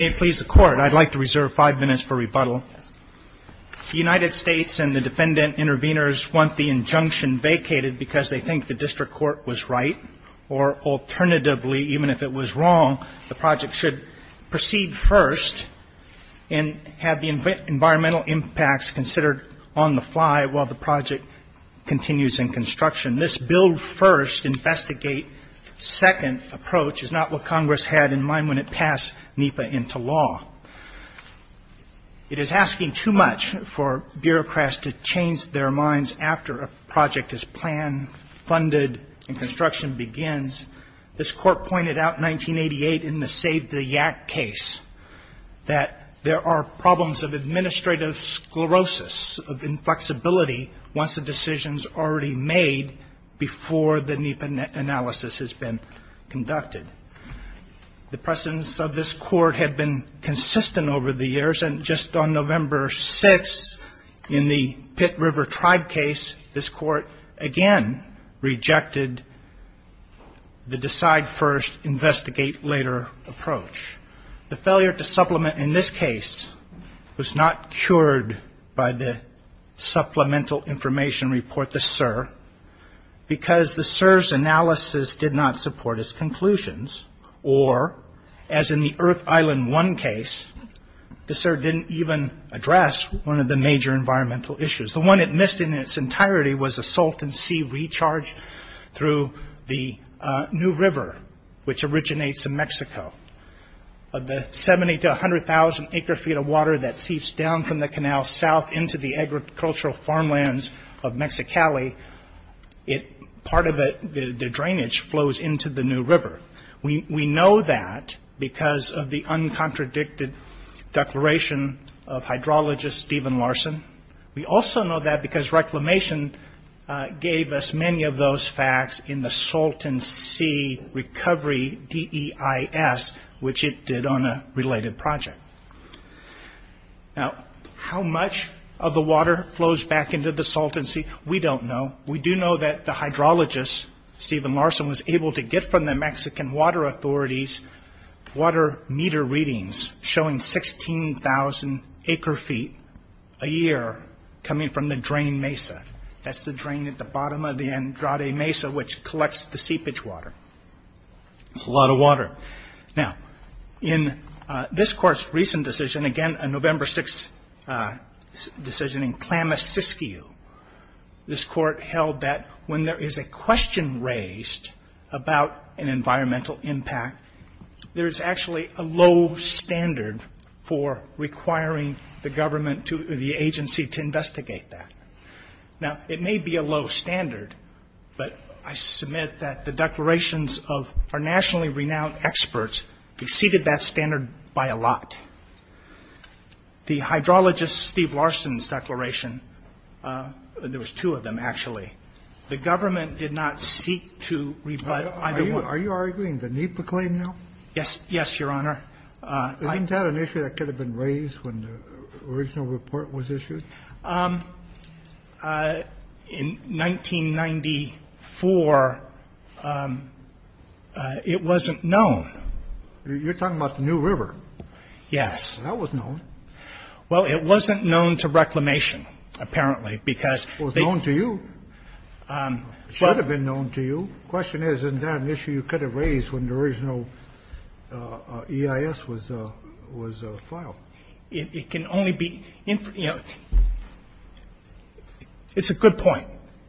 May it please the Court, I'd like to reserve five minutes for rebuttal. The United States and the defendant intervenors want the injunction vacated because they think the district court was right, or alternatively, even if it was wrong, the project should proceed first and have the environmental impacts considered on the fly while the project continues in construction. This build first, investigate second approach is not what Congress had in mind when it passed NEPA into law. It is asking too much for bureaucrats to change their minds after a project is planned, funded, and construction begins. This Court pointed out in 1988 in the Save the YAC case that there are problems of administrative sclerosis, of inflexibility once a decision is already made before the NEPA analysis has been conducted. The precedence of this Court had been consistent over the years, and just on November 6th in the Pitt River Tribe case, this Court again rejected the decide first, investigate later approach. The failure to supplement in this case was not cured by the Supplemental Information Report, the SIR, because the SIR's analysis did not support its conclusions, or as in the Earth Island One case, the SIR didn't even address one of the major environmental issues. The one it missed in its entirety was a salt and sea recharge through the New River. Of the 70 to 100,000 acre feet of water that seeps down from the canal south into the agricultural farmlands of Mexicali, part of the drainage flows into the New River. We know that because of the uncontradicted declaration of hydrologist Stephen Larson. We also know that because Reclamation gave us many of those facts in the Salt and Sea Recovery DEIS, which it did on a related project. How much of the water flows back into the salt and sea, we don't know. We do know that the hydrologist Stephen Larson was able to get from the Mexican Water Authority's water meter readings showing 16,000 acre feet a year coming from the drain mesa. That's the lot of water. In this court's recent decision, again a November 6th decision in Klamasiskio, this court held that when there is a question raised about an environmental impact, there is actually a low standard for requiring the government or the agency to investigate that. It may be a low standard, but I submit that the declarations of our nationally renowned experts exceeded that standard by a lot. The hydrologist Stephen Larson's declaration, there was two of them actually, the government did not seek to rebut either one. Are you arguing the NEPA claim now? Yes, Your Honor. Isn't that an issue that could have been raised when the original report was issued? In 1994, it wasn't known. You're talking about the New River? Yes. That was known. Well, it wasn't known to Reclamation, apparently, because they It was known to you. It should have been known to you. The question is, isn't that an issue you could have raised when the original EIS was filed? It can only be, you know, it's a good point.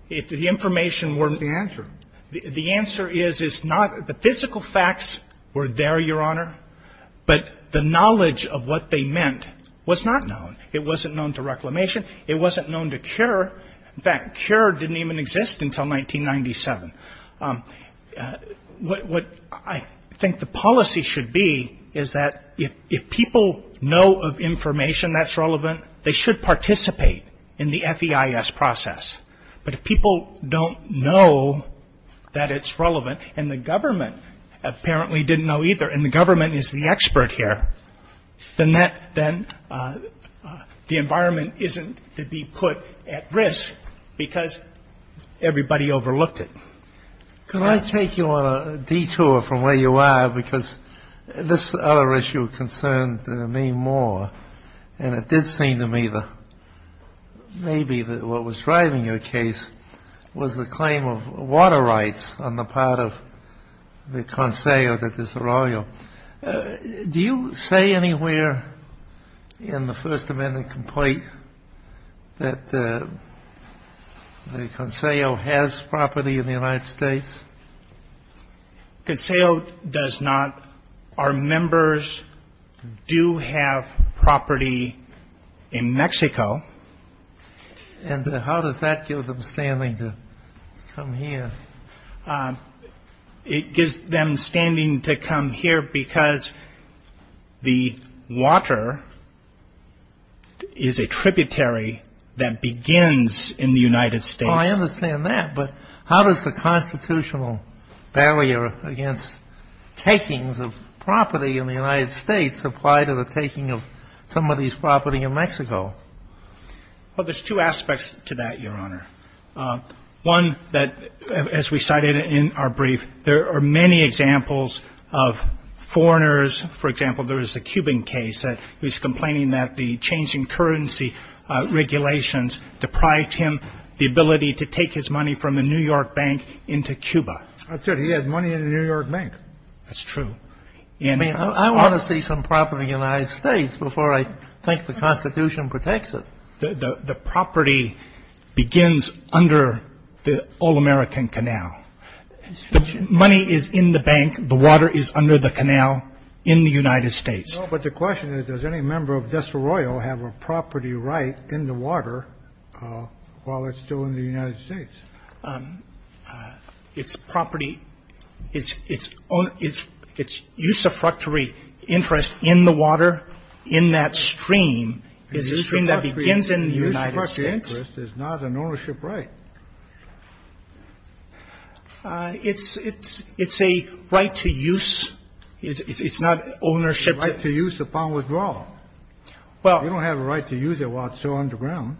The information wasn't the answer. The answer is it's not, the physical facts were there, Your Honor, but the knowledge of what they meant was not known. It wasn't known to Reclamation. It wasn't known to CURE. In fact, CURE didn't even exist until 1997. What I think the policy should be is that if people know of information that's relevant, they should participate in the FEIS process. But if people don't know that it's relevant, and the government apparently didn't know either, and the government is the expert here, then the environment isn't to be put at risk because everybody overlooked it. Could I take you on a detour from where you are? Because this other issue concerned me more, and it did seem to me that maybe what was driving your case was the claim of water rights on the part of the Conseil de Desarrollo. Do you say anywhere in the First Amendment complaint that the Conseil has property in the United States? The Conseil does not. Our members do have property in Mexico. And how does that give them standing to come here? It gives them standing to come here because the water is a tributary that begins in the United States. I understand that, but how does the constitutional barrier against takings of property in the United States apply to the taking of some of these property in Mexico? Well, there's two aspects to that, Your Honor. One that, as we cited in our brief, there are many examples of foreigners. For example, there is a Cuban case that he's complaining that the change in currency regulations deprived him the ability to take his money from the New York Bank into Cuba. That's right. He has money in the New York Bank. That's true. I mean, I want to see some property in the United States before I think the Constitution protects it. The property begins under the All-American Canal. The money is in the bank. The water is under the canal in the United States. But the question is, does any member of Desarrollo have a property right in the water while it's still in the United States? Its property, its use of fructuary interest in the water in that stream is a stream that begins in the United States. Its use of fructuary interest is not an ownership right. It's a right to use. It's not ownership. It's a right to use upon withdrawal. Well. You don't have a right to use it while it's still underground.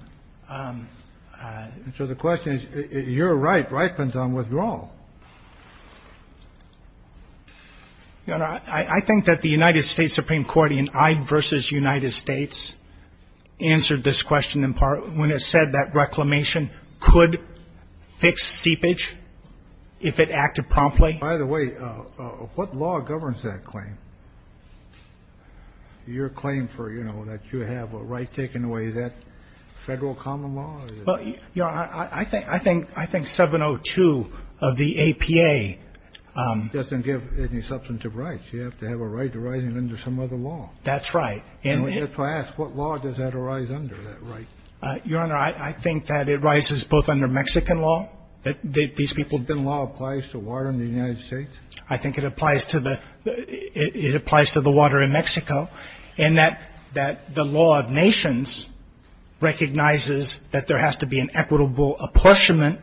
So the question is, your right ripens on withdrawal. I think that the United States Supreme Court in Ide v. United States answered this question in part when it said that reclamation could fix seepage if it acted promptly. By the way, what law governs that claim? Your claim for, you know, that you have a right taken away. Is that federal common law? Well, Your Honor, I think 702 of the APA. Doesn't give any substantive rights. You have to have a right to rise under some other law. That's right. If I ask, what law does that arise under, that right? Your Honor, I think that it rises both under Mexican law, that these people. Then law applies to water in the United States? I think it applies to the, it applies to the water in Mexico. And that, that the law of nations recognizes that there has to be an equitable apportionment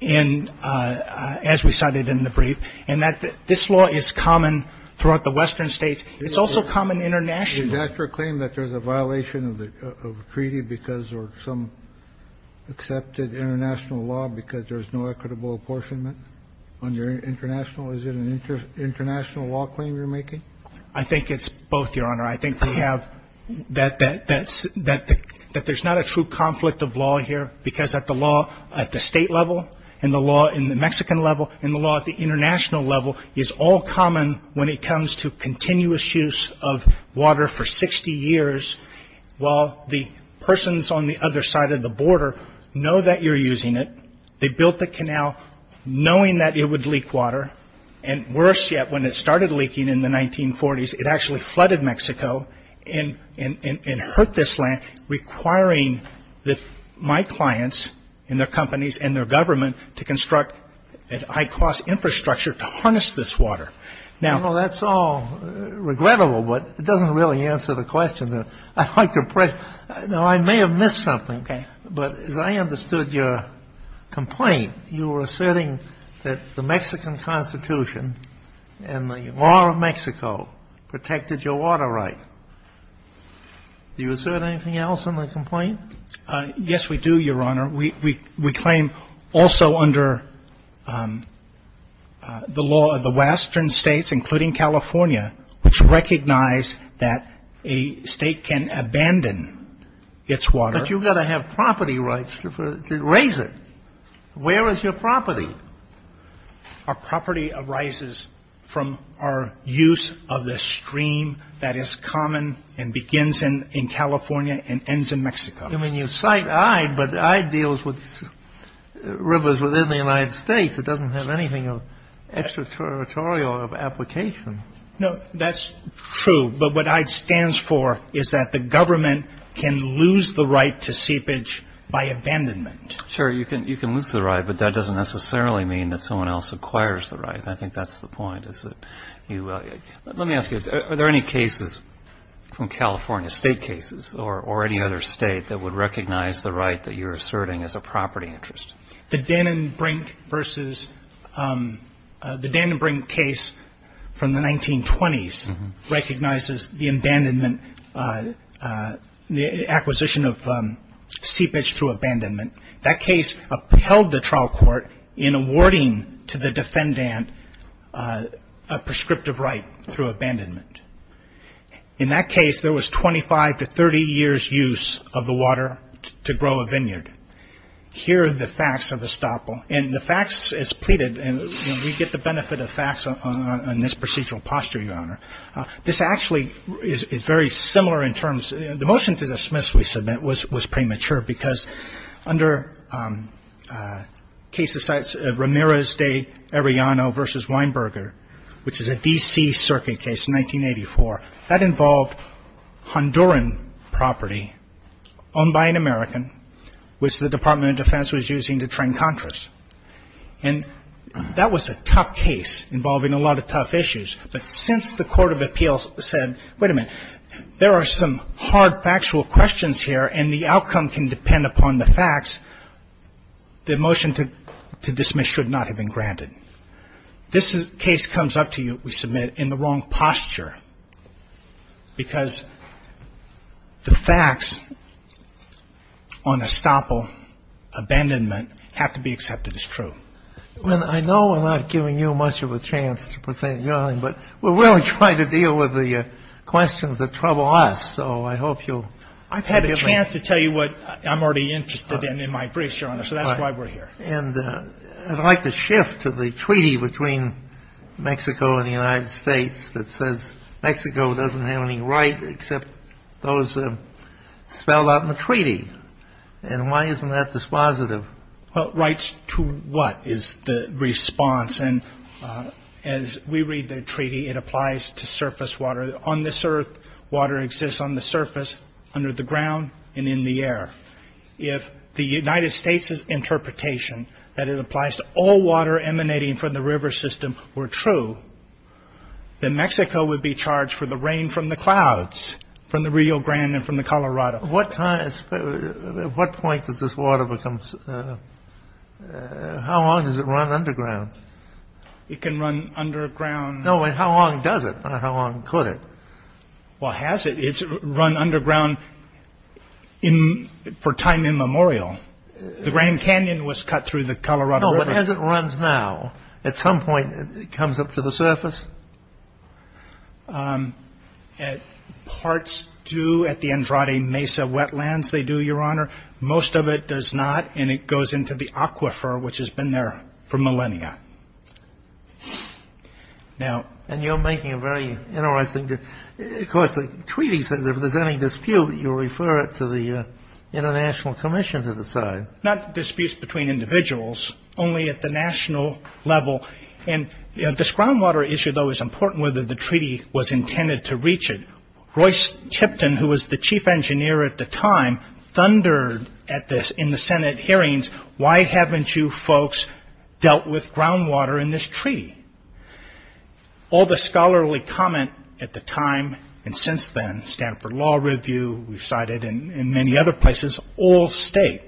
in, as we cited in the brief. And that this law is common throughout the western states. It's also common internationally. Did you claim that there's a violation of the treaty because or some accepted international law because there's no equitable apportionment? On your international, is it an international law claim you're making? I think it's both, Your Honor. I think we have, that there's not a true conflict of law here. Because at the law, at the state level. And the law in the Mexican level. And the law at the international level. Is all common when it comes to continuous use of water for 60 years. While the persons on the other side of the border know that you're using it. They built the canal knowing that it would leak water. And worse yet, when it started leaking in the 1940s, it actually flooded Mexico. And hurt this land, requiring my clients and their companies and their government to construct a high cost infrastructure to harness this water. Well, that's all regrettable. But it doesn't really answer the question. Now, I may have missed something. Okay. But as I understood your complaint, you were asserting that the Mexican Constitution and the law of Mexico protected your water right. Do you assert anything else in the complaint? Yes, we do, Your Honor. We claim also under the law of the western states, including California, which recognize that a state can abandon its water. But you've got to have property rights to raise it. Where is your property? Our property arises from our use of the stream that is common and begins in California and ends in Mexico. I mean, you cite IDE, but IDE deals with rivers within the United States. It doesn't have anything extraterritorial of application. No, that's true. But what IDE stands for is that the government can lose the right to seepage by abandonment. Sure, you can lose the right, but that doesn't necessarily mean that someone else acquires the right. I think that's the point. Let me ask you, are there any cases from California, state cases, or any other state that would recognize the right that you're asserting as a property interest? The Dannenbrink case from the 1920s recognizes the abandonment, the acquisition of seepage through abandonment. That case upheld the trial court in awarding to the defendant a prescriptive right through abandonment. In that case, there was 25 to 30 years' use of the water to grow a vineyard. Here are the facts of the estoppel. And the facts as pleaded, and we get the benefit of facts on this procedural posture, Your Honor. This actually is very similar in terms – the motion to dismiss, we submit, was premature, because under Ramirez de Arellano v. Weinberger, which is a D.C. circuit case, 1984, that involved Honduran property owned by an American, which the Department of Defense was using to train contras. And that was a tough case involving a lot of tough issues. But since the Court of Appeals said, wait a minute, there are some hard factual questions here, and the outcome can depend upon the facts, the motion to dismiss should not have been granted. This case comes up to you, we submit, in the wrong posture, because the facts on estoppel, abandonment, have to be accepted as true. I know I'm not giving you much of a chance to present, Your Honor, but we're really trying to deal with the questions that trouble us, so I hope you'll forgive me. I've had a chance to tell you what I'm already interested in, in my briefs, Your Honor, so that's why we're here. And I'd like to shift to the treaty between Mexico and the United States that says Mexico doesn't have any right except those spelled out in the treaty. And why isn't that dispositive? Well, rights to what is the response? And as we read the treaty, it applies to surface water. On this earth, water exists on the surface, under the ground, and in the air. If the United States' interpretation that it applies to all water emanating from the river system were true, then Mexico would be charged for the rain from the clouds, from the Rio Grande and from the Colorado. At what point does this water become... How long does it run underground? It can run underground... No, but how long does it? How long could it? Well, has it? It's run underground for time immemorial. The Grand Canyon was cut through the Colorado River. No, but as it runs now, at some point, it comes up to the surface? Parts do at the Andrade Mesa wetlands, they do, Your Honor. Most of it does not, and it goes into the aquifer, which has been there for millennia. And you're making a very interesting... Of course, the treaty says if there's any dispute, you refer it to the international commission to decide. Not disputes between individuals, only at the national level. This groundwater issue, though, is important, whether the treaty was intended to reach it. Roy Tipton, who was the chief engineer at the time, thundered in the Senate hearings, why haven't you folks dealt with groundwater in this treaty? All the scholarly comment at the time, and since then, Stanford Law Review, we've cited in many other places, all state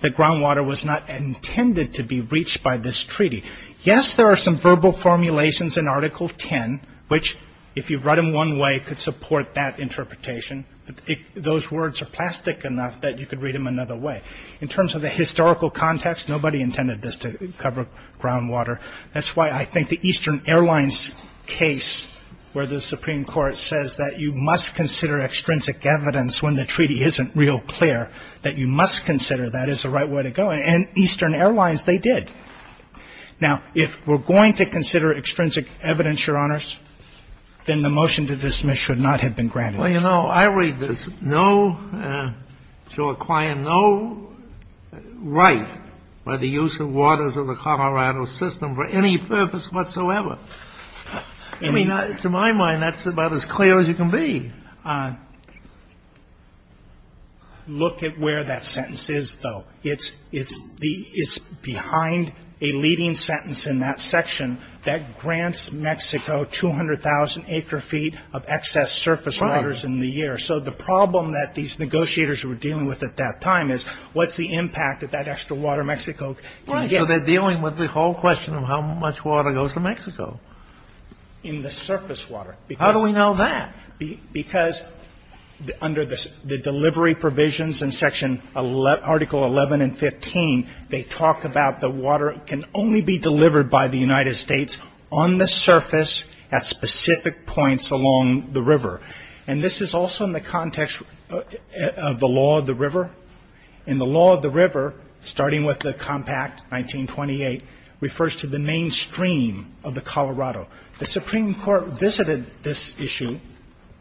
that groundwater was not intended to be reached by this treaty. Yes, there are some verbal formulations in Article 10, which, if you read them one way, could support that interpretation, but those words are plastic enough that you could read them another way. In terms of the historical context, nobody intended this to cover groundwater. That's why I think the Eastern Airlines case, where the Supreme Court says that you must consider extrinsic evidence when the treaty isn't real clear, that you must consider that as the right way to go. And Eastern Airlines, they did. Now, if we're going to consider extrinsic evidence, Your Honors, then the motion to dismiss should not have been granted. Well, you know, I read there's no, to a client, no right by the use of waters of the Colorado system for any purpose whatsoever. I mean, to my mind, that's about as clear as it can be. Look at where that sentence is, though. It's behind a leading sentence in that section that grants Mexico 200,000 acre feet of excess surface waters in the year. So the problem that these negotiators were dealing with at that time is what's the impact of that extra water Mexico can get? Right. So they're dealing with the whole question of how much water goes to Mexico. In the surface water. How do we know that? Because under the delivery provisions in Section Article 11 and 15, they talk about the water can only be delivered by the United States on the surface at specific points along the river. And this is also in the context of the law of the river. In the law of the river, starting with the Compact 1928, refers to the mainstream of the Colorado. The Supreme Court visited this issue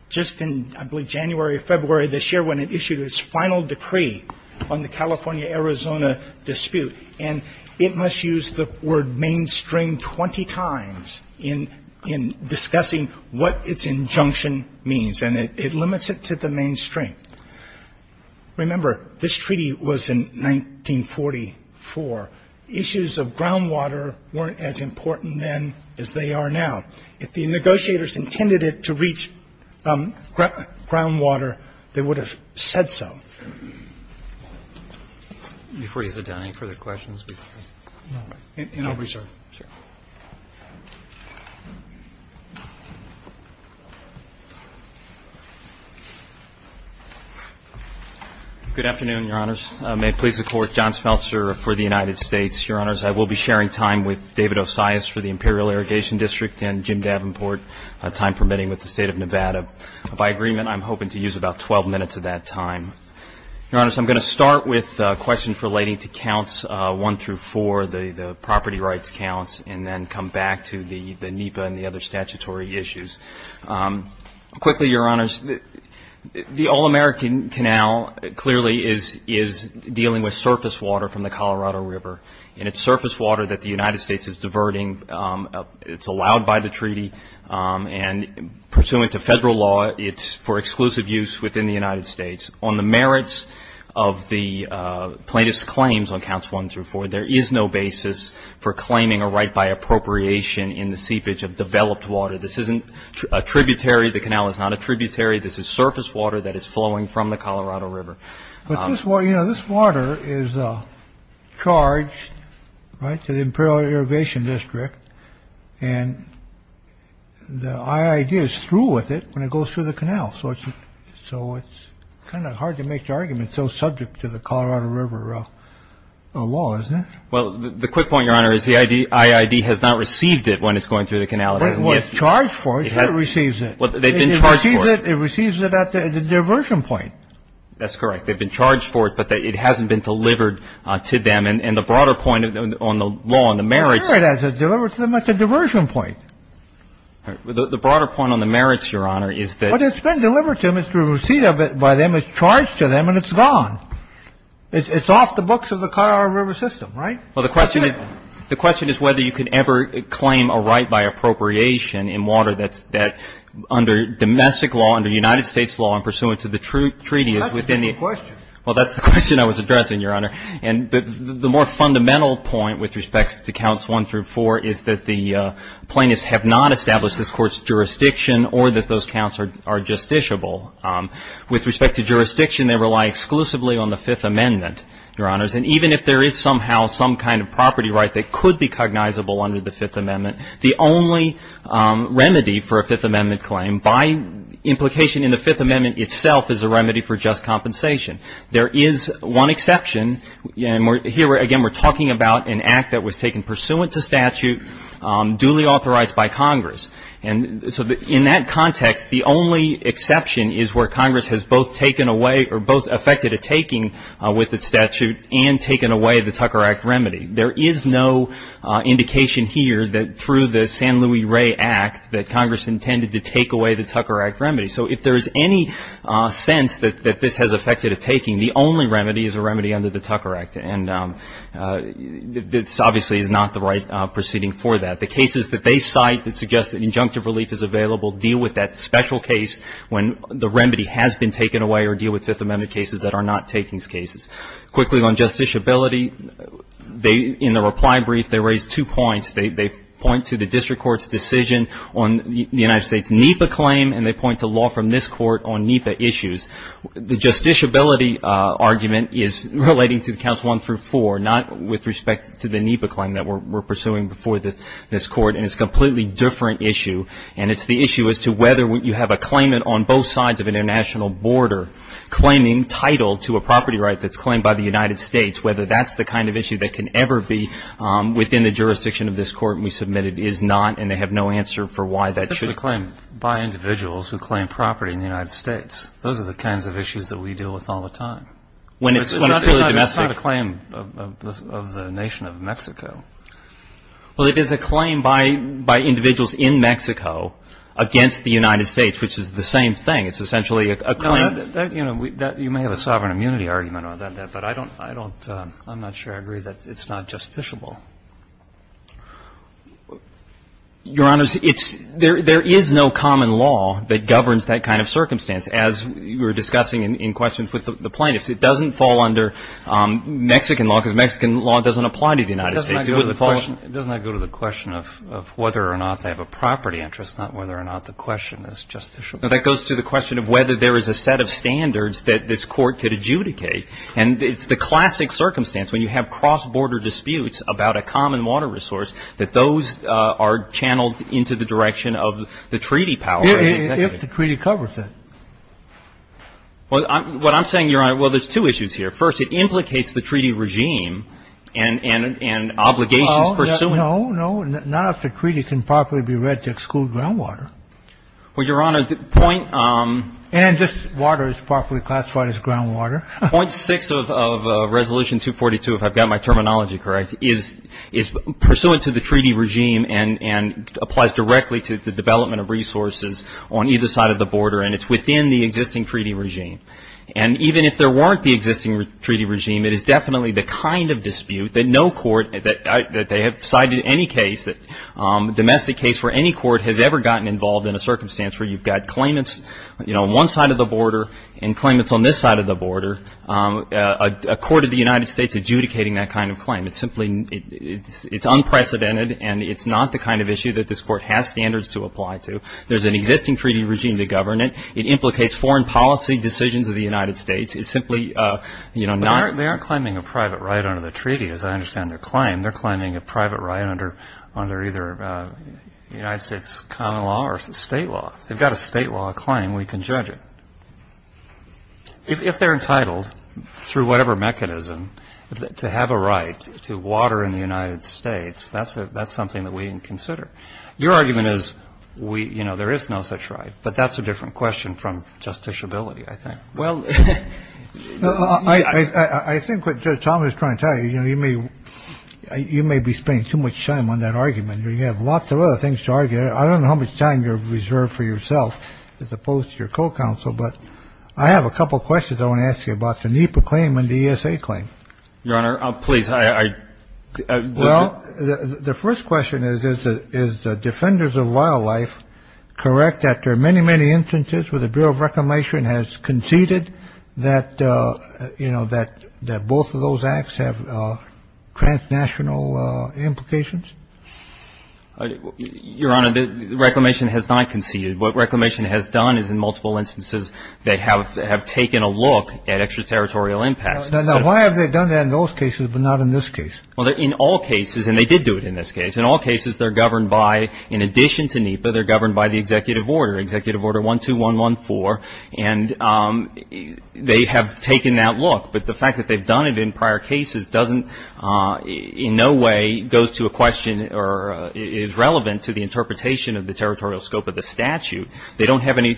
just in, I believe, January or February this year when it issued its final decree on the California-Arizona dispute. And it must use the word mainstream 20 times in discussing what its injunction means. And it limits it to the mainstream. Remember, this treaty was in 1944. Issues of groundwater weren't as important then as they are now. If the negotiators intended it to reach groundwater, they would have said so. Before you sit down, any further questions? No. And I'll reserve. Sure. Good afternoon, Your Honors. May it please the Court. John Smeltzer for the United States. Your Honors, I will be sharing time with David Osias for the Imperial Irrigation District and Jim Davenport, time permitting, with the State of Nevada. By agreement, I'm hoping to use about 12 minutes of that time. Your Honors, I'm going to start with questions relating to counts 1 through 4, the property rights counts, and then come back to the NEPA and the other statutory issues. Quickly, Your Honors, the All-American Canal clearly is dealing with surface water from the Colorado River. And it's surface water that the United States is diverting. It's allowed by the treaty. And pursuant to federal law, it's for exclusive use within the United States. On the merits of the plaintiff's claims on counts 1 through 4, there is no basis for claiming a right by appropriation in the seepage of developed water. This isn't a tributary. The canal is not a tributary. This is surface water that is flowing from the Colorado River. But this water, you know, this water is charged, right, to the Imperial Irrigation District. And the IID is through with it when it goes through the canal. So it's kind of hard to make the argument. It's so subject to the Colorado River law, isn't it? Well, the quick point, Your Honor, is the IID has not received it when it's going through the canal. Well, it's charged for it. It receives it. Well, they've been charged for it. It receives it at the diversion point. That's correct. They've been charged for it, but it hasn't been delivered to them. And the broader point on the law and the merits... Sure it has. It's delivered to them at the diversion point. The broader point on the merits, Your Honor, is that... Well, it's been delivered to them. It's the receipt of it by them. It's charged to them, and it's gone. It's off the books of the Colorado River system, right? Well, the question is whether you can ever claim a right by appropriation in water that's under domestic law, under United States law, and pursuant to the treaty is within the... That's a different question. Well, that's the question I was addressing, Your Honor. And the more fundamental point with respect to counts one through four is that the plaintiffs have not established this Court's jurisdiction or that those counts are justiciable. With respect to jurisdiction, they rely exclusively on the Fifth Amendment, Your Honors. And even if there is somehow some kind of property right that could be cognizable under the Fifth Amendment, the only remedy for a Fifth Amendment claim by implication in the Fifth Amendment itself is a remedy for just compensation. There is one exception, and here again we're talking about an act that was taken pursuant to statute, duly authorized by Congress. And so in that context, the only exception is where Congress has both taken away or both affected a taking with its statute and taken away the Tucker Act remedy. There is no indication here that through the San Louis Ray Act that Congress intended to take away the Tucker Act remedy. So if there is any sense that this has affected a taking, the only remedy is a remedy under the Tucker Act. And this obviously is not the right proceeding for that. The cases that they cite that suggest that injunctive relief is available deal with that special case when the remedy has been taken away or deal with Fifth Amendment cases that are not takings cases. Quickly on justiciability, in the reply brief, they raised two points. They point to the district court's decision on the United States NEPA claim, and they point to law from this court on NEPA issues. The justiciability argument is relating to counts one through four, not with respect to the NEPA claim that we're pursuing before this court. And it's a completely different issue. And it's the issue as to whether you have a claimant on both sides of an international border claiming title to a property right that's claimed by the United States, whether that's the kind of issue that can ever be within the jurisdiction of this court, and we submit it is not, and they have no answer for why that should be. It's a claim by individuals who claim property in the United States. Those are the kinds of issues that we deal with all the time. It's not a claim of the nation of Mexico. Well, it is a claim by individuals in Mexico against the United States, which is the same thing. It's essentially a claim. You may have a sovereign immunity argument on that, but I'm not sure I agree that it's not justiciable. Your Honor, there is no common law that governs that kind of circumstance, as we were discussing in questions with the plaintiffs. It doesn't fall under Mexican law, because Mexican law doesn't apply to the United States. Doesn't that go to the question of whether or not they have a property interest, not whether or not the question is justiciable? That goes to the question of whether there is a set of standards that this court could adjudicate, and it's the classic circumstance when you have cross-border disputes about a common water resource that those are channeled into the direction of the treaty power. If the treaty covers it. What I'm saying, Your Honor, well, there's two issues here. First, it implicates the treaty regime and obligations pursuant. No, no. None of the treaty can properly be read to exclude groundwater. Well, Your Honor, the point. And this water is properly classified as groundwater. Point six of Resolution 242, if I've got my terminology correct, is pursuant to the treaty regime and applies directly to the development of resources on either side of the border, and it's within the existing treaty regime. And even if there weren't the existing treaty regime, it is definitely the kind of dispute that no court, that they have cited any case, domestic case where any court has ever gotten involved in a circumstance where you've got claimants, you know, on one side of the border and claimants on this side of the border, a court of the United States adjudicating that kind of claim. It's simply, it's unprecedented, and it's not the kind of issue that this court has standards to apply to. There's an existing treaty regime to govern it. It implicates foreign policy decisions of the United States. It's simply, you know, not... They aren't claiming a private right under the treaty, as I understand their claim. They're claiming a private right under either United States common law or state law. If they've got a state law claim, we can judge it. If they're entitled, through whatever mechanism, to have a right to water in the United States, that's something that we can consider. Your argument is, you know, there is no such right, but that's a different question from justiciability, I think. Well, I think what Tom is trying to tell you, you know, you may be spending too much time on that argument. You have lots of other things to argue. I don't know how much time you have reserved for yourself as opposed to your co-counsel, but I have a couple of questions I want to ask you about the NEPA claim and the ESA claim. Your Honor, please, I... Well, the first question is, is Defenders of Wildlife correct that there are many, many instances where the Bureau of Reclamation has conceded that, you know, that both of those acts have transnational implications? Your Honor, Reclamation has not conceded. What Reclamation has done is, in multiple instances, they have taken a look at extraterritorial impacts. Now, why have they done that in those cases but not in this case? Well, in all cases, and they did do it in this case, in all cases, they're governed by, in addition to NEPA, they're governed by the Executive Order, Executive Order 12114, and they have taken that look. But the fact that they've done it in prior cases doesn't, in no way, goes to a question or is relevant to the interpretation of the territorial scope of the statute. They don't have any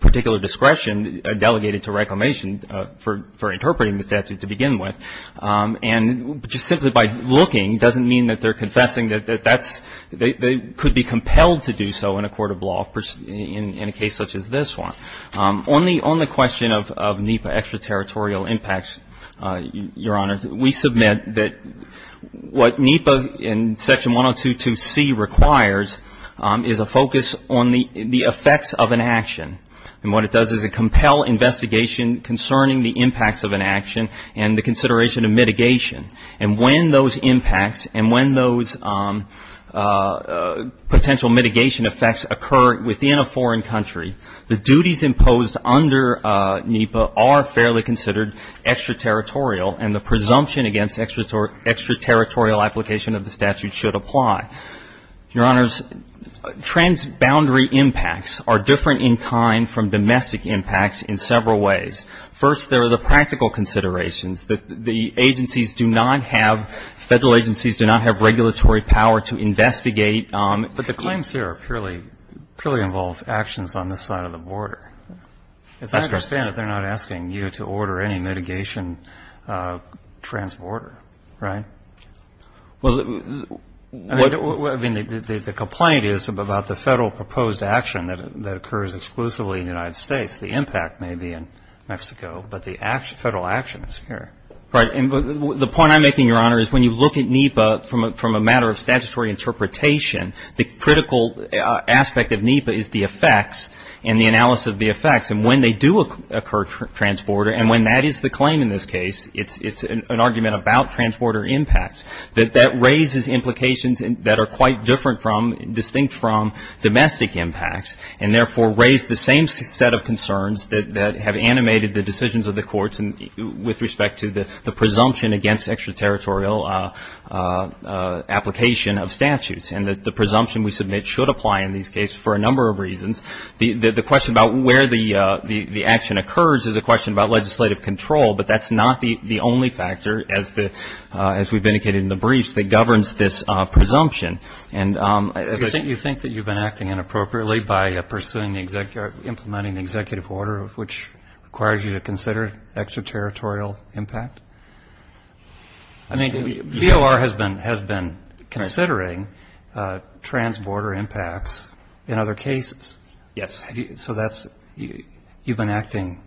particular discretion delegated to Reclamation for interpreting the statute to begin with. And just simply by looking doesn't mean that they're confessing that that's, they could be compelled to do so in a court of law in a case such as this one. On the question of NEPA extraterritorial impacts, Your Honor, we submit that what NEPA in Section 102.2.C requires is a focus on the effects of an action. And what it does is a compel investigation concerning the impacts of an action and the consideration of mitigation. And when those impacts and when those potential mitigation effects occur within a foreign country, the duties imposed under NEPA are fairly considered extraterritorial and the presumption against extraterritorial application of the statute should apply. Your Honors, transboundary impacts are different in kind from domestic impacts in several ways. First, there are the practical considerations that the agencies do not have, Federal agencies do not have regulatory power to investigate. But the claims here are purely involved actions on this side of the border. As I understand it, they're not asking you to order any mitigation transborder, right? Well, I mean, the complaint is about the Federal proposed action that occurs exclusively in the United States. The impact may be in Mexico, but the Federal action is here. Right. The point I'm making, Your Honor, is when you look at NEPA from a matter of statutory interpretation, the critical aspect of NEPA is the effects and the analysis of the effects. And when they do occur transborder, and when that is the claim in this case, it's an argument about transborder impact. That raises implications that are quite different from, distinct from, domestic impacts. And therefore, raise the same set of concerns that have animated the decisions of the courts with respect to the presumption against extraterritorial application of statutes. And that the presumption we submit should apply in these cases for a number of reasons. The question about where the action occurs is a question about legislative control, but that's not the only factor, as we've indicated in the briefs, that governs this presumption. And you think that you've been acting inappropriately by pursuing the executive, implementing the executive order, which requires you to consider extraterritorial impact? I mean, VOR has been considering transborder impacts in other cases. Yes. So that's, you've been acting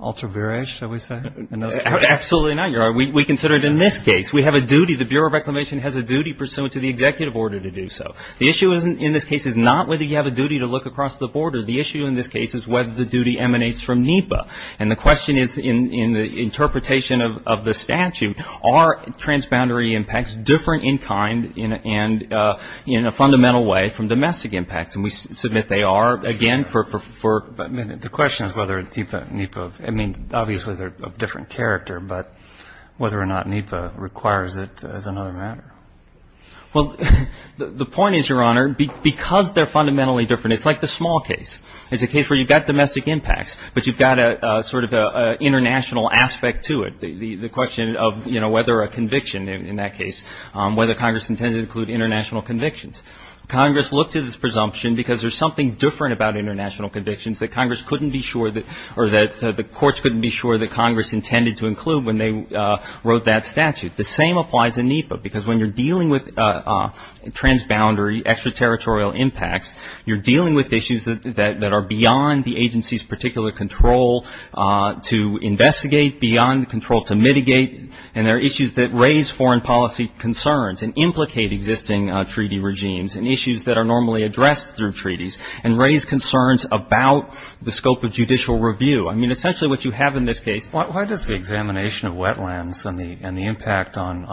ultra virish, shall we say? Absolutely not, Your Honor. We consider it in this case. We have a duty, the Bureau of Reclamation has a duty pursuant to the executive order to do so. The issue in this case is not whether you have a duty to look across the border. The issue in this case is whether the duty emanates from NEPA. And the question is, in the interpretation of the statute, are transboundary impacts different in kind and in a fundamental way from domestic impacts? And we submit they are. Again, for, the question is whether NEPA, I mean, obviously they're of different character, but whether or not NEPA requires it is another matter. Well, the point is, Your Honor, because they're fundamentally different, it's like the small case. It's a case where you've got domestic impacts, but you've got a sort of an international aspect to it. The question of, you know, whether a conviction in that case, whether Congress intended to include international convictions. Congress looked at this presumption because there's something different about international convictions that Congress couldn't be sure that, or that the courts couldn't be sure that Congress intended to include when they wrote that statute. The same applies in NEPA, because when you're dealing with transboundary, extraterritorial impacts, you're dealing with issues that are beyond the agency's particular control to investigate, beyond the control to mitigate. And there are issues that raise foreign policy concerns and implicate existing treaty regimes and issues that are normally addressed through treaties and raise concerns about the scope of judicial review. I mean, essentially what you have in this case... Why does the examination of wetlands and the impact on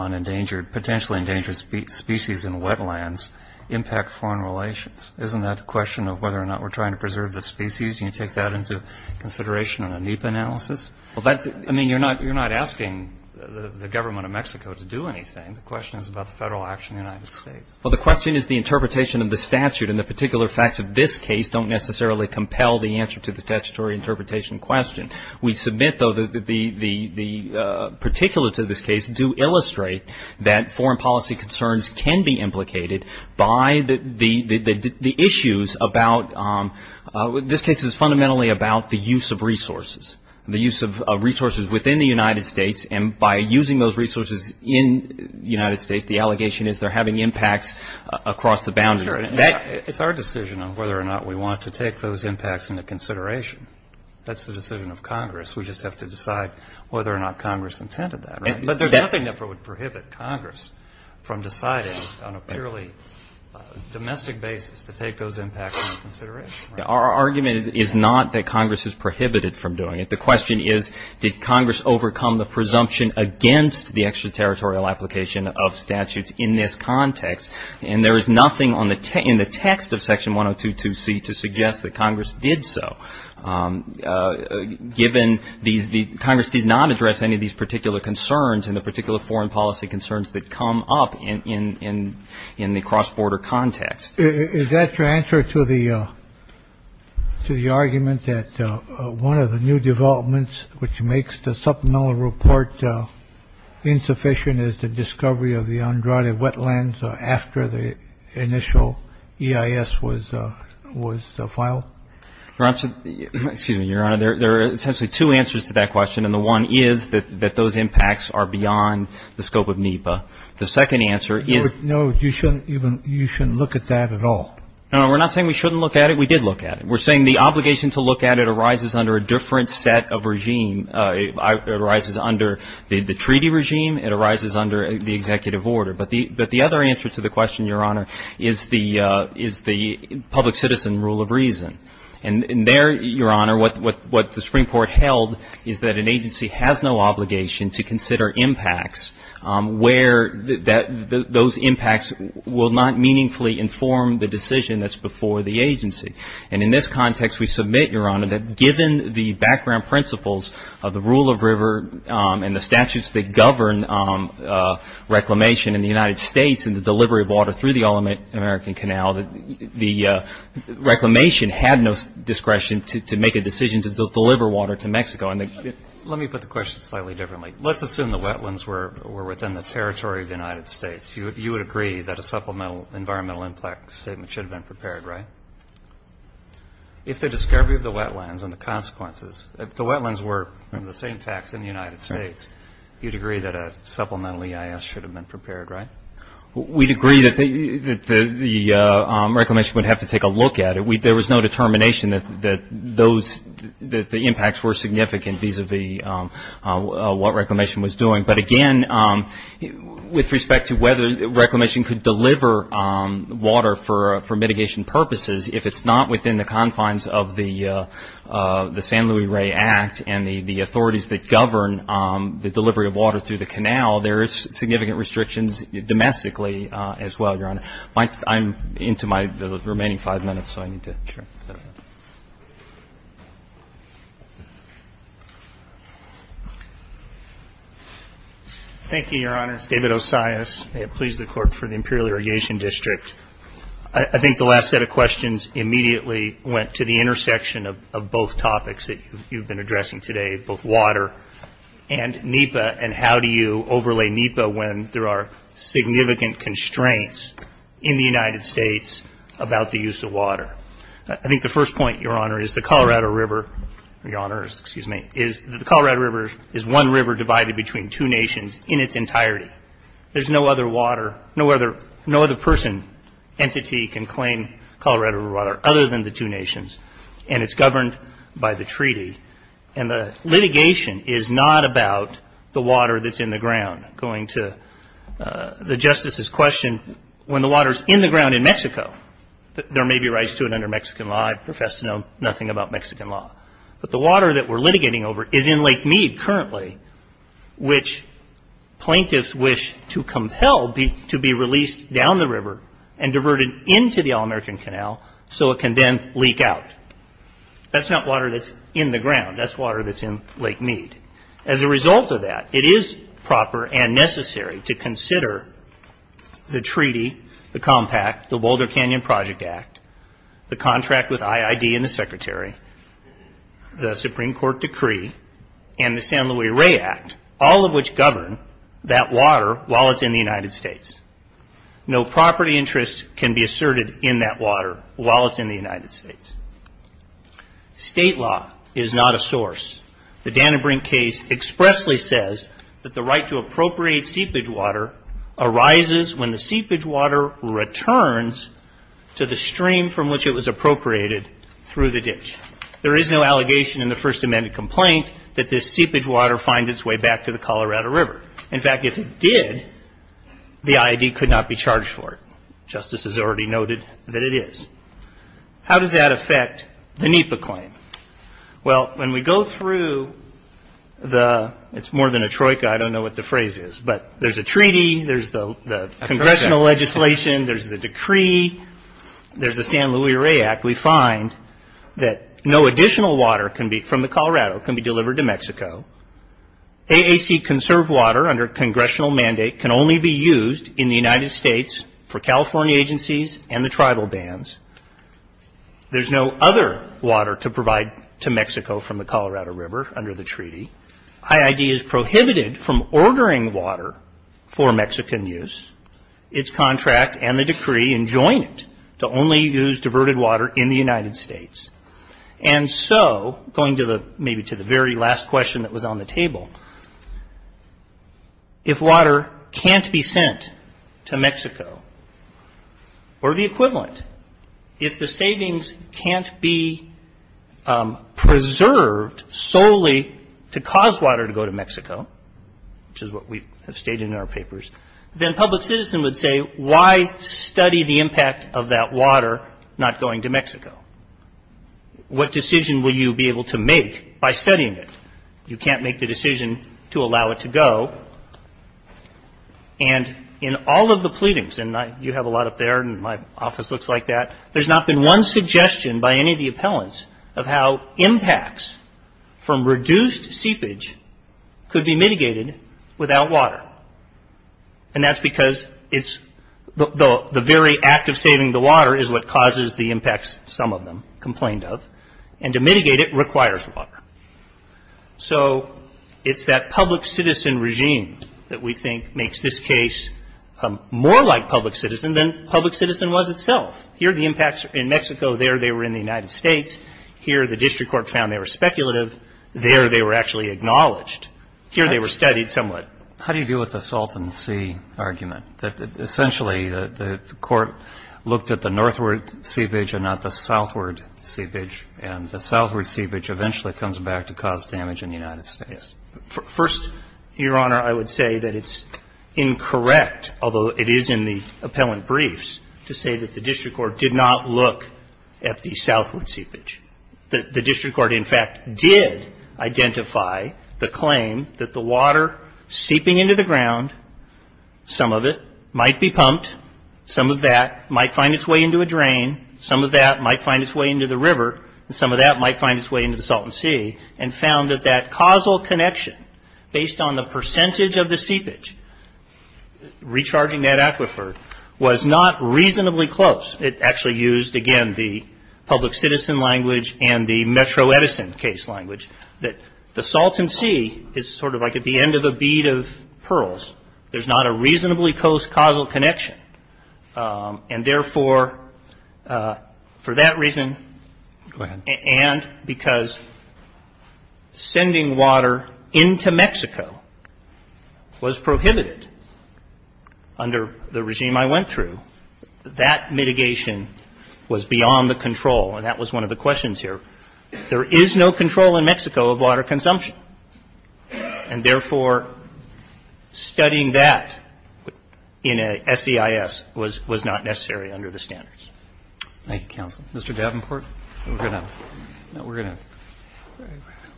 potentially endangered species in wetlands impact foreign relations? Isn't that the question of whether or not we're trying to preserve the species? Can you take that into consideration in a NEPA analysis? I mean, you're not asking the government of Mexico to do anything. The question is about the federal action in the United States. Well, the question is the interpretation of the statute, and the particular facts of this case don't necessarily compel the answer to the statutory interpretation question. We submit, though, that the particulates of this case do illustrate that foreign policy concerns can be implicated by the issues about... This case is fundamentally about the use of resources. The use of resources within the United States, and by using those resources in the United States, the allegation is they're having impacts across the boundaries. It's our decision on whether or not we want to take those impacts into consideration. That's the decision of Congress. We just have to decide whether or not Congress intended that. But there's nothing that would prohibit Congress from deciding on a purely domestic basis to take those impacts into consideration. Our argument is not that Congress is prohibited from doing it. The question is, did Congress overcome the presumption against the extraterritorial application of statutes in this context? And there is nothing in the text of Section 102.2c to suggest that Congress did so, given Congress did not address any of these particular concerns, and the particular foreign policy concerns that come up in the cross-border context. Is that your answer to the argument that one of the new developments, which makes the supplemental report insufficient, is the discovery of the Andrade wetlands after the initial EIS was filed? Excuse me, Your Honor. There are essentially two answers to that question, and the one is that those impacts are beyond the scope of NEPA. The second answer is... No, you shouldn't look at that at all. No, we're not saying we shouldn't look at it. We did look at it. We're saying the obligation to look at it arises under a different set of regime. It arises under the treaty regime. It arises under the executive order. But the other answer to the question, Your Honor, is the public citizen rule of reason. And there, Your Honor, what the Supreme Court held is that an agency has no obligation to consider impacts where those impacts will not meaningfully inform the decision that's before the agency. And in this context, we submit, Your Honor, that given the background principles of the rule of river and the statutes that govern reclamation in the United States and the delivery of water through the All-American Canal, the reclamation had no discretion to make a decision to deliver water to Mexico. Let me put the question slightly differently. Let's assume the wetlands were within the territory of the United States. You would agree that a supplemental environmental impact statement should have been prepared, right? If the discovery of the wetlands and the consequences, if the wetlands were the same facts in the United States, you'd agree that a supplemental EIS should have been prepared, right? We'd agree that the reclamation would have to take a look at it. There was no determination that the impacts were significant vis-a-vis what reclamation was doing. But again, with respect to whether reclamation could deliver water for mitigation purposes, if it's not within the confines of the San Luis Rey Act and the authorities that govern the delivery of water through the canal, there is significant restrictions domestically as well, Your Honor. I'm into my remaining five minutes, so I need to... Thank you, Your Honors. David Osias. May it please the Court for the Imperial Irrigation District. I think the last set of questions immediately went to the intersection of both topics that you've been addressing today, both water and NEPA, and how do you overlay NEPA when there are significant constraints in the United States about the use of water. I think the first point, Your Honor, is the Colorado River... Your Honors, excuse me. The Colorado River is one river divided between two nations in its entirety. There's no other water, no other person, entity can claim Colorado River water other than the two nations, and it's governed by the treaty. And the litigation is not about the water that's in the ground. Going to the Justice's question, when the water's in the ground in Mexico, there may be rights to it under Mexican law. I profess to know nothing about Mexican law. But the water that we're litigating over is in Lake Mead currently, which plaintiffs wish to compel to be released down the river and diverted into the All-American Canal so it can then leak out. That's not water that's in the ground. That's water that's in Lake Mead. As a result of that, it is proper and necessary to consider the treaty, the compact, the Boulder Canyon Project Act, the contract with IID and the Secretary, the Supreme Court decree, and the San Luis Rey Act, all of which govern that water while it's in the United States. No property interest can be asserted in that water while it's in the United States. State law is not a source. The Dannenbrink case expressly says that the right to appropriate seepage water arises when the seepage water returns to the stream from which it was appropriated through the ditch. There is no allegation in the First Amendment complaint that this seepage water finds its way back to the Colorado River. In fact, if it did, the IID could not be charged for it. Justice has already noted that it is. How does that affect the NEPA claim? Well, when we go through the it's more than a troika, I don't know what the phrase is, but there's a treaty, there's the congressional legislation, there's the decree, there's the San Luis Rey Act, we find that no additional water from the Colorado can be delivered to Mexico. AAC conserved water under congressional mandate can only be used in the United States for California agencies and the tribal bands. There's no other water to provide to Mexico from the Colorado River under the treaty. IID is prohibited from ordering water for Mexican use. It's contract and the decree enjoin it to only use diverted water in the United States. And so, going to the, maybe to the very last question that was on the table, if water can't be sent to Mexico or the equivalent, if the savings can't be preserved solely to cause water to go to Mexico, which is what we have stated in our papers, then public citizen would say, why study the impact of that water not going to Mexico? What decision will you be able to make by studying it? You can't make the decision to allow it to go. And in all of the pleadings, and you have a lot up there and my office looks like that, there's not been one suggestion by any of the appellants of how impacts from reduced seepage could be mitigated without water. And that's because it's, the very act of saving the water is what causes the impacts, some of them complained of, and to mitigate it requires water. So, it's that public citizen regime that we think makes this case more like public citizen than public citizen was itself. Here the impacts in Mexico, there they were in the United States, here the district court found they were speculative, there they were actually acknowledged. Here they were studied somewhat. How do you deal with the salt in the sea argument? Essentially the court looked at the northward seepage and not the southward seepage and the southward seepage eventually comes back to cause damage in the United States. First, Your Honor, I would say that it's incorrect, although it is in the appellant briefs, to say that the district court did not look at the southward seepage. The district court, in fact, did identify the claim that the water seeping into the ground, some of it might be pumped, some of that might find its way into a drain, some of that might find its way into the river, and some of that might find its way into the salt and sea, and found that that causal connection based on the percentage of the seepage, recharging that aquifer, was not reasonably close. It actually used, again, the public citizen language and the Metro Edison case language, that the salt and sea is sort of like at the end of a bead of pearls. There's not a reasonably close causal connection, and therefore, for that reason, and because sending water into Mexico was prohibited under the regime I went through, that mitigation was beyond the control, and that was one of the questions here. There is no control in Mexico of water consumption, and therefore, studying that in a SEIS was not necessary under the standards. Thank you, counsel. Mr. Davenport? We're going to... No, we're going to...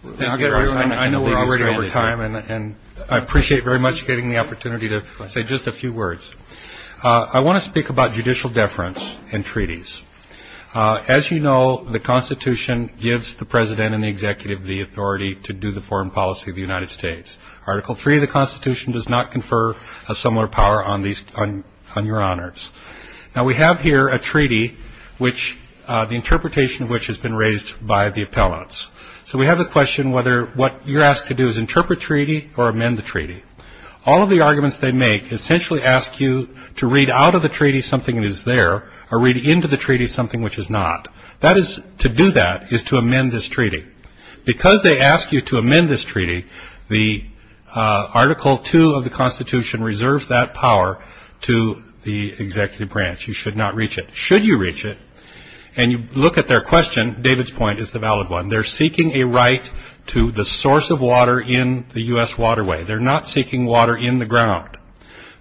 I know we're already over time, and I appreciate very much getting the opportunity to say just a few words. I want to speak about judicial deference in treaties. As you know, the Constitution gives the President and the Executive the authority to do the foreign policy of the United States. Article 3 of the Constitution does not confer a similar power on your honors. Now, we have here a treaty which... the interpretation of which has been raised by the appellants. So we have a question whether what you're asked to do is interpret the treaty or amend the treaty. All of the arguments they make essentially ask you to read out of the treaty something that is there or read into the treaty something which is not. That is... to do that is to amend this treaty. Because they ask you to amend this treaty, the Article 2 of the Constitution reserves that power to the Executive Branch. You should not reach it. Should you reach it, and you look at their question, David's point is the valid one, they're seeking a right to the source of water in the U.S. waterway. They're not seeking water in the ground.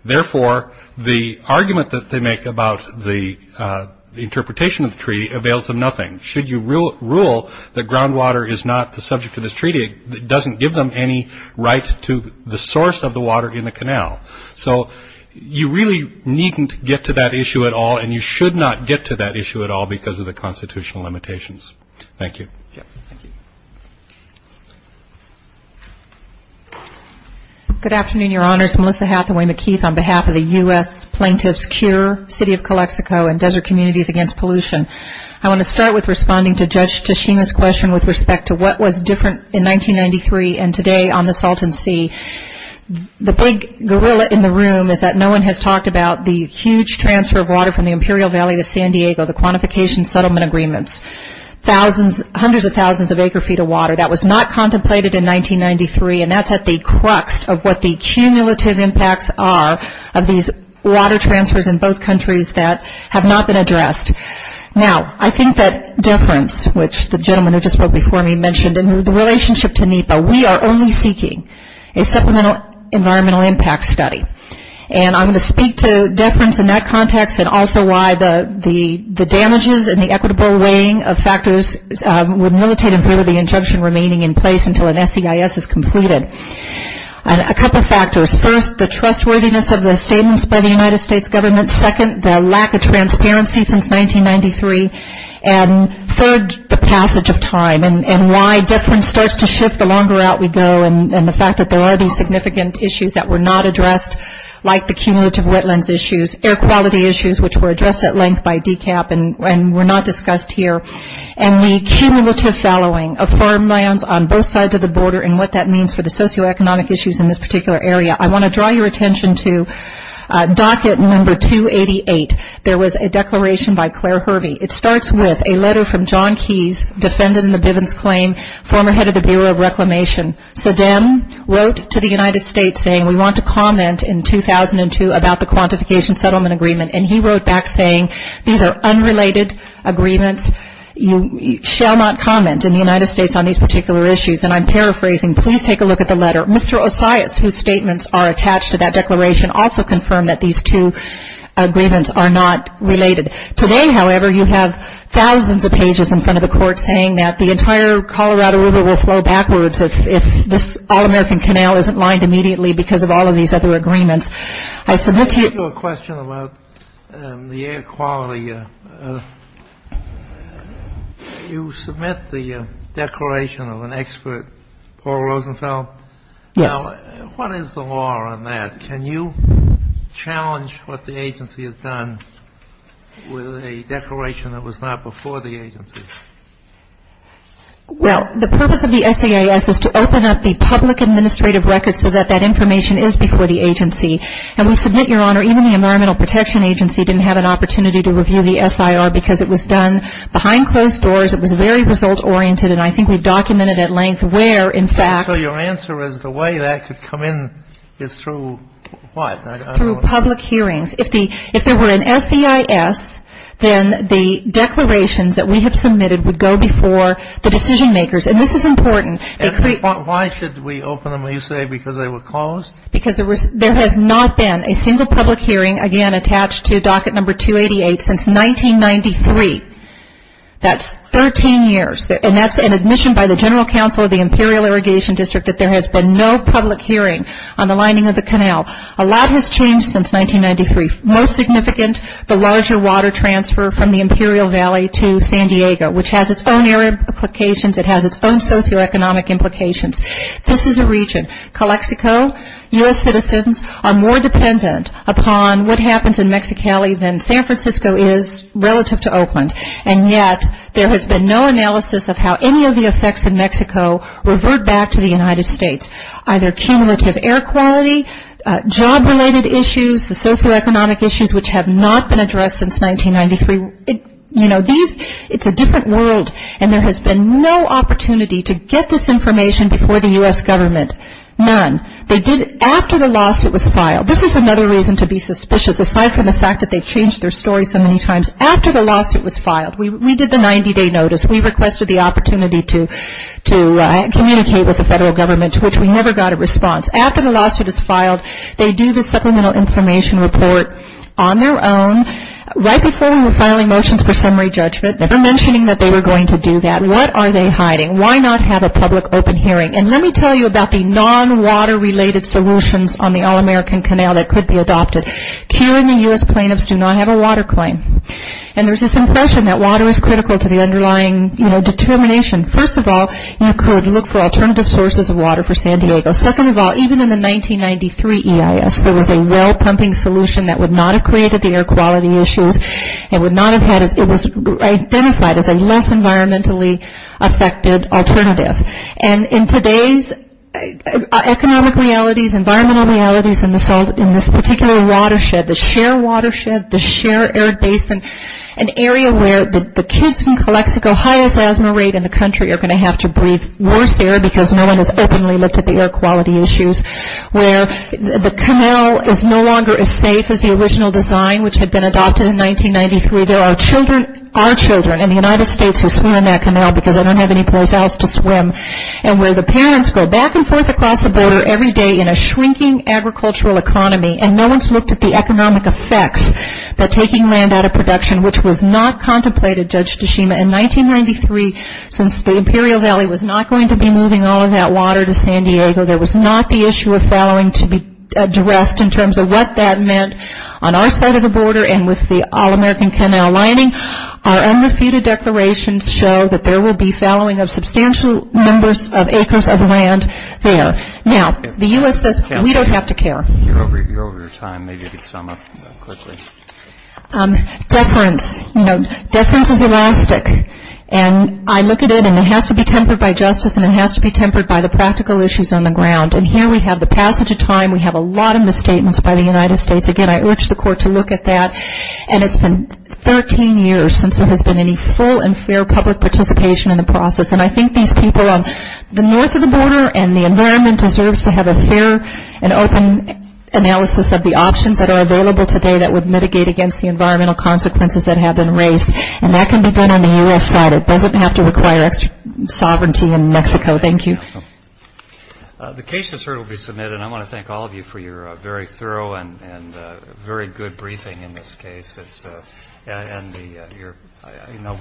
Therefore, the argument that they make about the interpretation of the treaty avails them nothing. Should you rule that groundwater is not the subject of this treaty, it doesn't give them any right to the source of the water in the canal. So you really needn't get to that issue at all and you should not get to that issue at all because of the Constitutional limitations. Thank you. Good afternoon, Your Honors. Melissa Hathaway-McKeith on behalf of the U.S. Plaintiff's Cure, City of Calexico, and Desert Communities Against Pollution. I want to start with responding to Judge Tashima's question with respect to what was different in 1993 and today on the Salton Sea. The big gorilla in the room is that no one has talked about the huge transfer of water from the Imperial Valley to San Diego, the quantification settlement agreements, hundreds of thousands of acre feet of water that was not contemplated in 1993 and that's at the crux of what the cumulative impacts are of these water transfers in both countries that have not been addressed. Now, I think that deference, which the gentleman who just spoke before me mentioned in the relationship to NEPA, we are only seeking a supplemental environmental impact study and I'm going to speak to deference in that context and also why the damages and the equitable weighing of factors would militate in favor of the injunction remaining in place until an SEIS is completed. A couple factors. First, the trustworthiness of the statements by the United States government. Second, the lack of transparency since 1993 and third, the passage of time and why deference starts to shift the longer out we go and the fact that there are these significant issues that were not addressed like the cumulative wetlands issues, air quality issues which were addressed at length by DCAP and were not discussed here and the cumulative following of farmlands on both sides of the border and what that means for the socioeconomic issues in this particular area. I want to draw your attention to docket number 288. There was a declaration by Claire Hervey. It starts with a letter from John Keyes, defendant in the Bivens claim, former head of the Bureau of Reclamation. So then wrote to the United States saying we want to comment in 2002 about the quantification settlement agreement and he wrote back saying these are unrelated agreements you shall not comment in the United States on these particular issues and I'm paraphrasing please take a look at the letter. Mr. Osias whose statements are attached to that declaration also confirmed that these two agreements are not related. Today however you have thousands of pages in front of the court saying that the entire Colorado River will flow through the state. You submit the declaration of an expert Paul Rosenfeld. Yes. What is the law on that? Can you challenge what the agency has done with a declaration that was not before the agency? Well the purpose of the SAAS is to open up the public administrative records so that that information is before the agency. It was done behind closed doors. It was very result oriented and I think we documented at length where in fact... So your answer is the way that could come in is through what? Through public hearings. If there were an SEIS then the declarations that we have submitted would go before the decision makers and this is important. Why should we open them up? Because there has not been a single public hearing again attached to docket number 288 since 1993. That's 13 years and that's an admission by the general council of the Imperial Irrigation District that there has been no public hearing on the lining of the canal. A lot has changed since 1993. Most significant the larger water transfer from the Imperial Valley to San Diego which has its own implications, its own socioeconomic implications. This is a region. Calexico, US citizens are more dependent upon what happens in Mexicali than San Francisco is relative to Oakland and yet there has been no analysis of how any of the effects in Mexico revert back to the United States. Either cumulative air quality, job related issues, the socioeconomic issues which have not been addressed since 1993. It's a different world and there has been no opportunity to get this information before the US government. None. They did after the lawsuit was filed. This is another reason to be suspicious aside from the fact that they changed their story so many times. After the lawsuit was filed, we did the 90 day notice. We requested the opportunity to communicate with the federal government which we never got a response. After the lawsuit is filed, they do the supplemental information report on their own. Right before we were filing motions for summary judgment, never before was there a motion to change the water claim. There is this impression that water is critical to the underlying determination. First of all, you could look for alternative sources of water for San Diego. Second of all, even in the 1993 EIS, there was a well pumping solution that would not have created the air quality issues. It was identified as a less environmentally affected alternative. In today's economic realities, environmental realities, in this particular watershed, the share watershed, the share air basin, an area where the kids in Calexico highest asthma rate in the country are going to have to breathe worse air because no one has openly looked at the air quality issues. Where the canal is no longer as safe as the original design which had been adopted in 1993. There are children, our children in the United States who swim in that canal because I don't have any place else to swim. And where the parents go back and forth across the border every day in a shrinking agricultural economy and no one has looked at the economic effects that taking land out of production which was not contemplated, Judge Tashima, in 1993 since the Imperial Valley was not going to be moving all of that water to San Diego. There was not the issue of fallowing to be addressed in terms of what that meant on our side of the border and with the All-American Canal lining. Our unrefuted declarations show that there will be fallowing of substantial numbers of acres of land there. Now, the U.S. says we don't have to care. Deference, you know, deference is elastic. And I look at it and it has to be tempered by justice and it has to be tempered by the practical issues on the ground. And here we have the case of and it has been 15 years since there has been any full and fair public participation in the process. And I think these people on the north of the border and the environment deserves to have a fair and open analysis of the options that are available today that would mitigate against the environmental consequences that have been caused by the So, thank you all for being here and we appreciate you coming here. We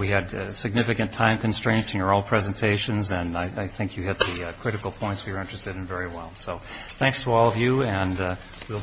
had significant time constraints in your presentations and I think you hit the critical points we were interested in very well. So, thanks to all of you and we will be in touch we'll next briefing. for the next briefing. Thank you. Thank you. Thank you. Thank you. Thank you. Thank you. Thank you. Thank you. Thank you. Thank you. Thank you. Thank you. Thank you. Thank you. Thank you.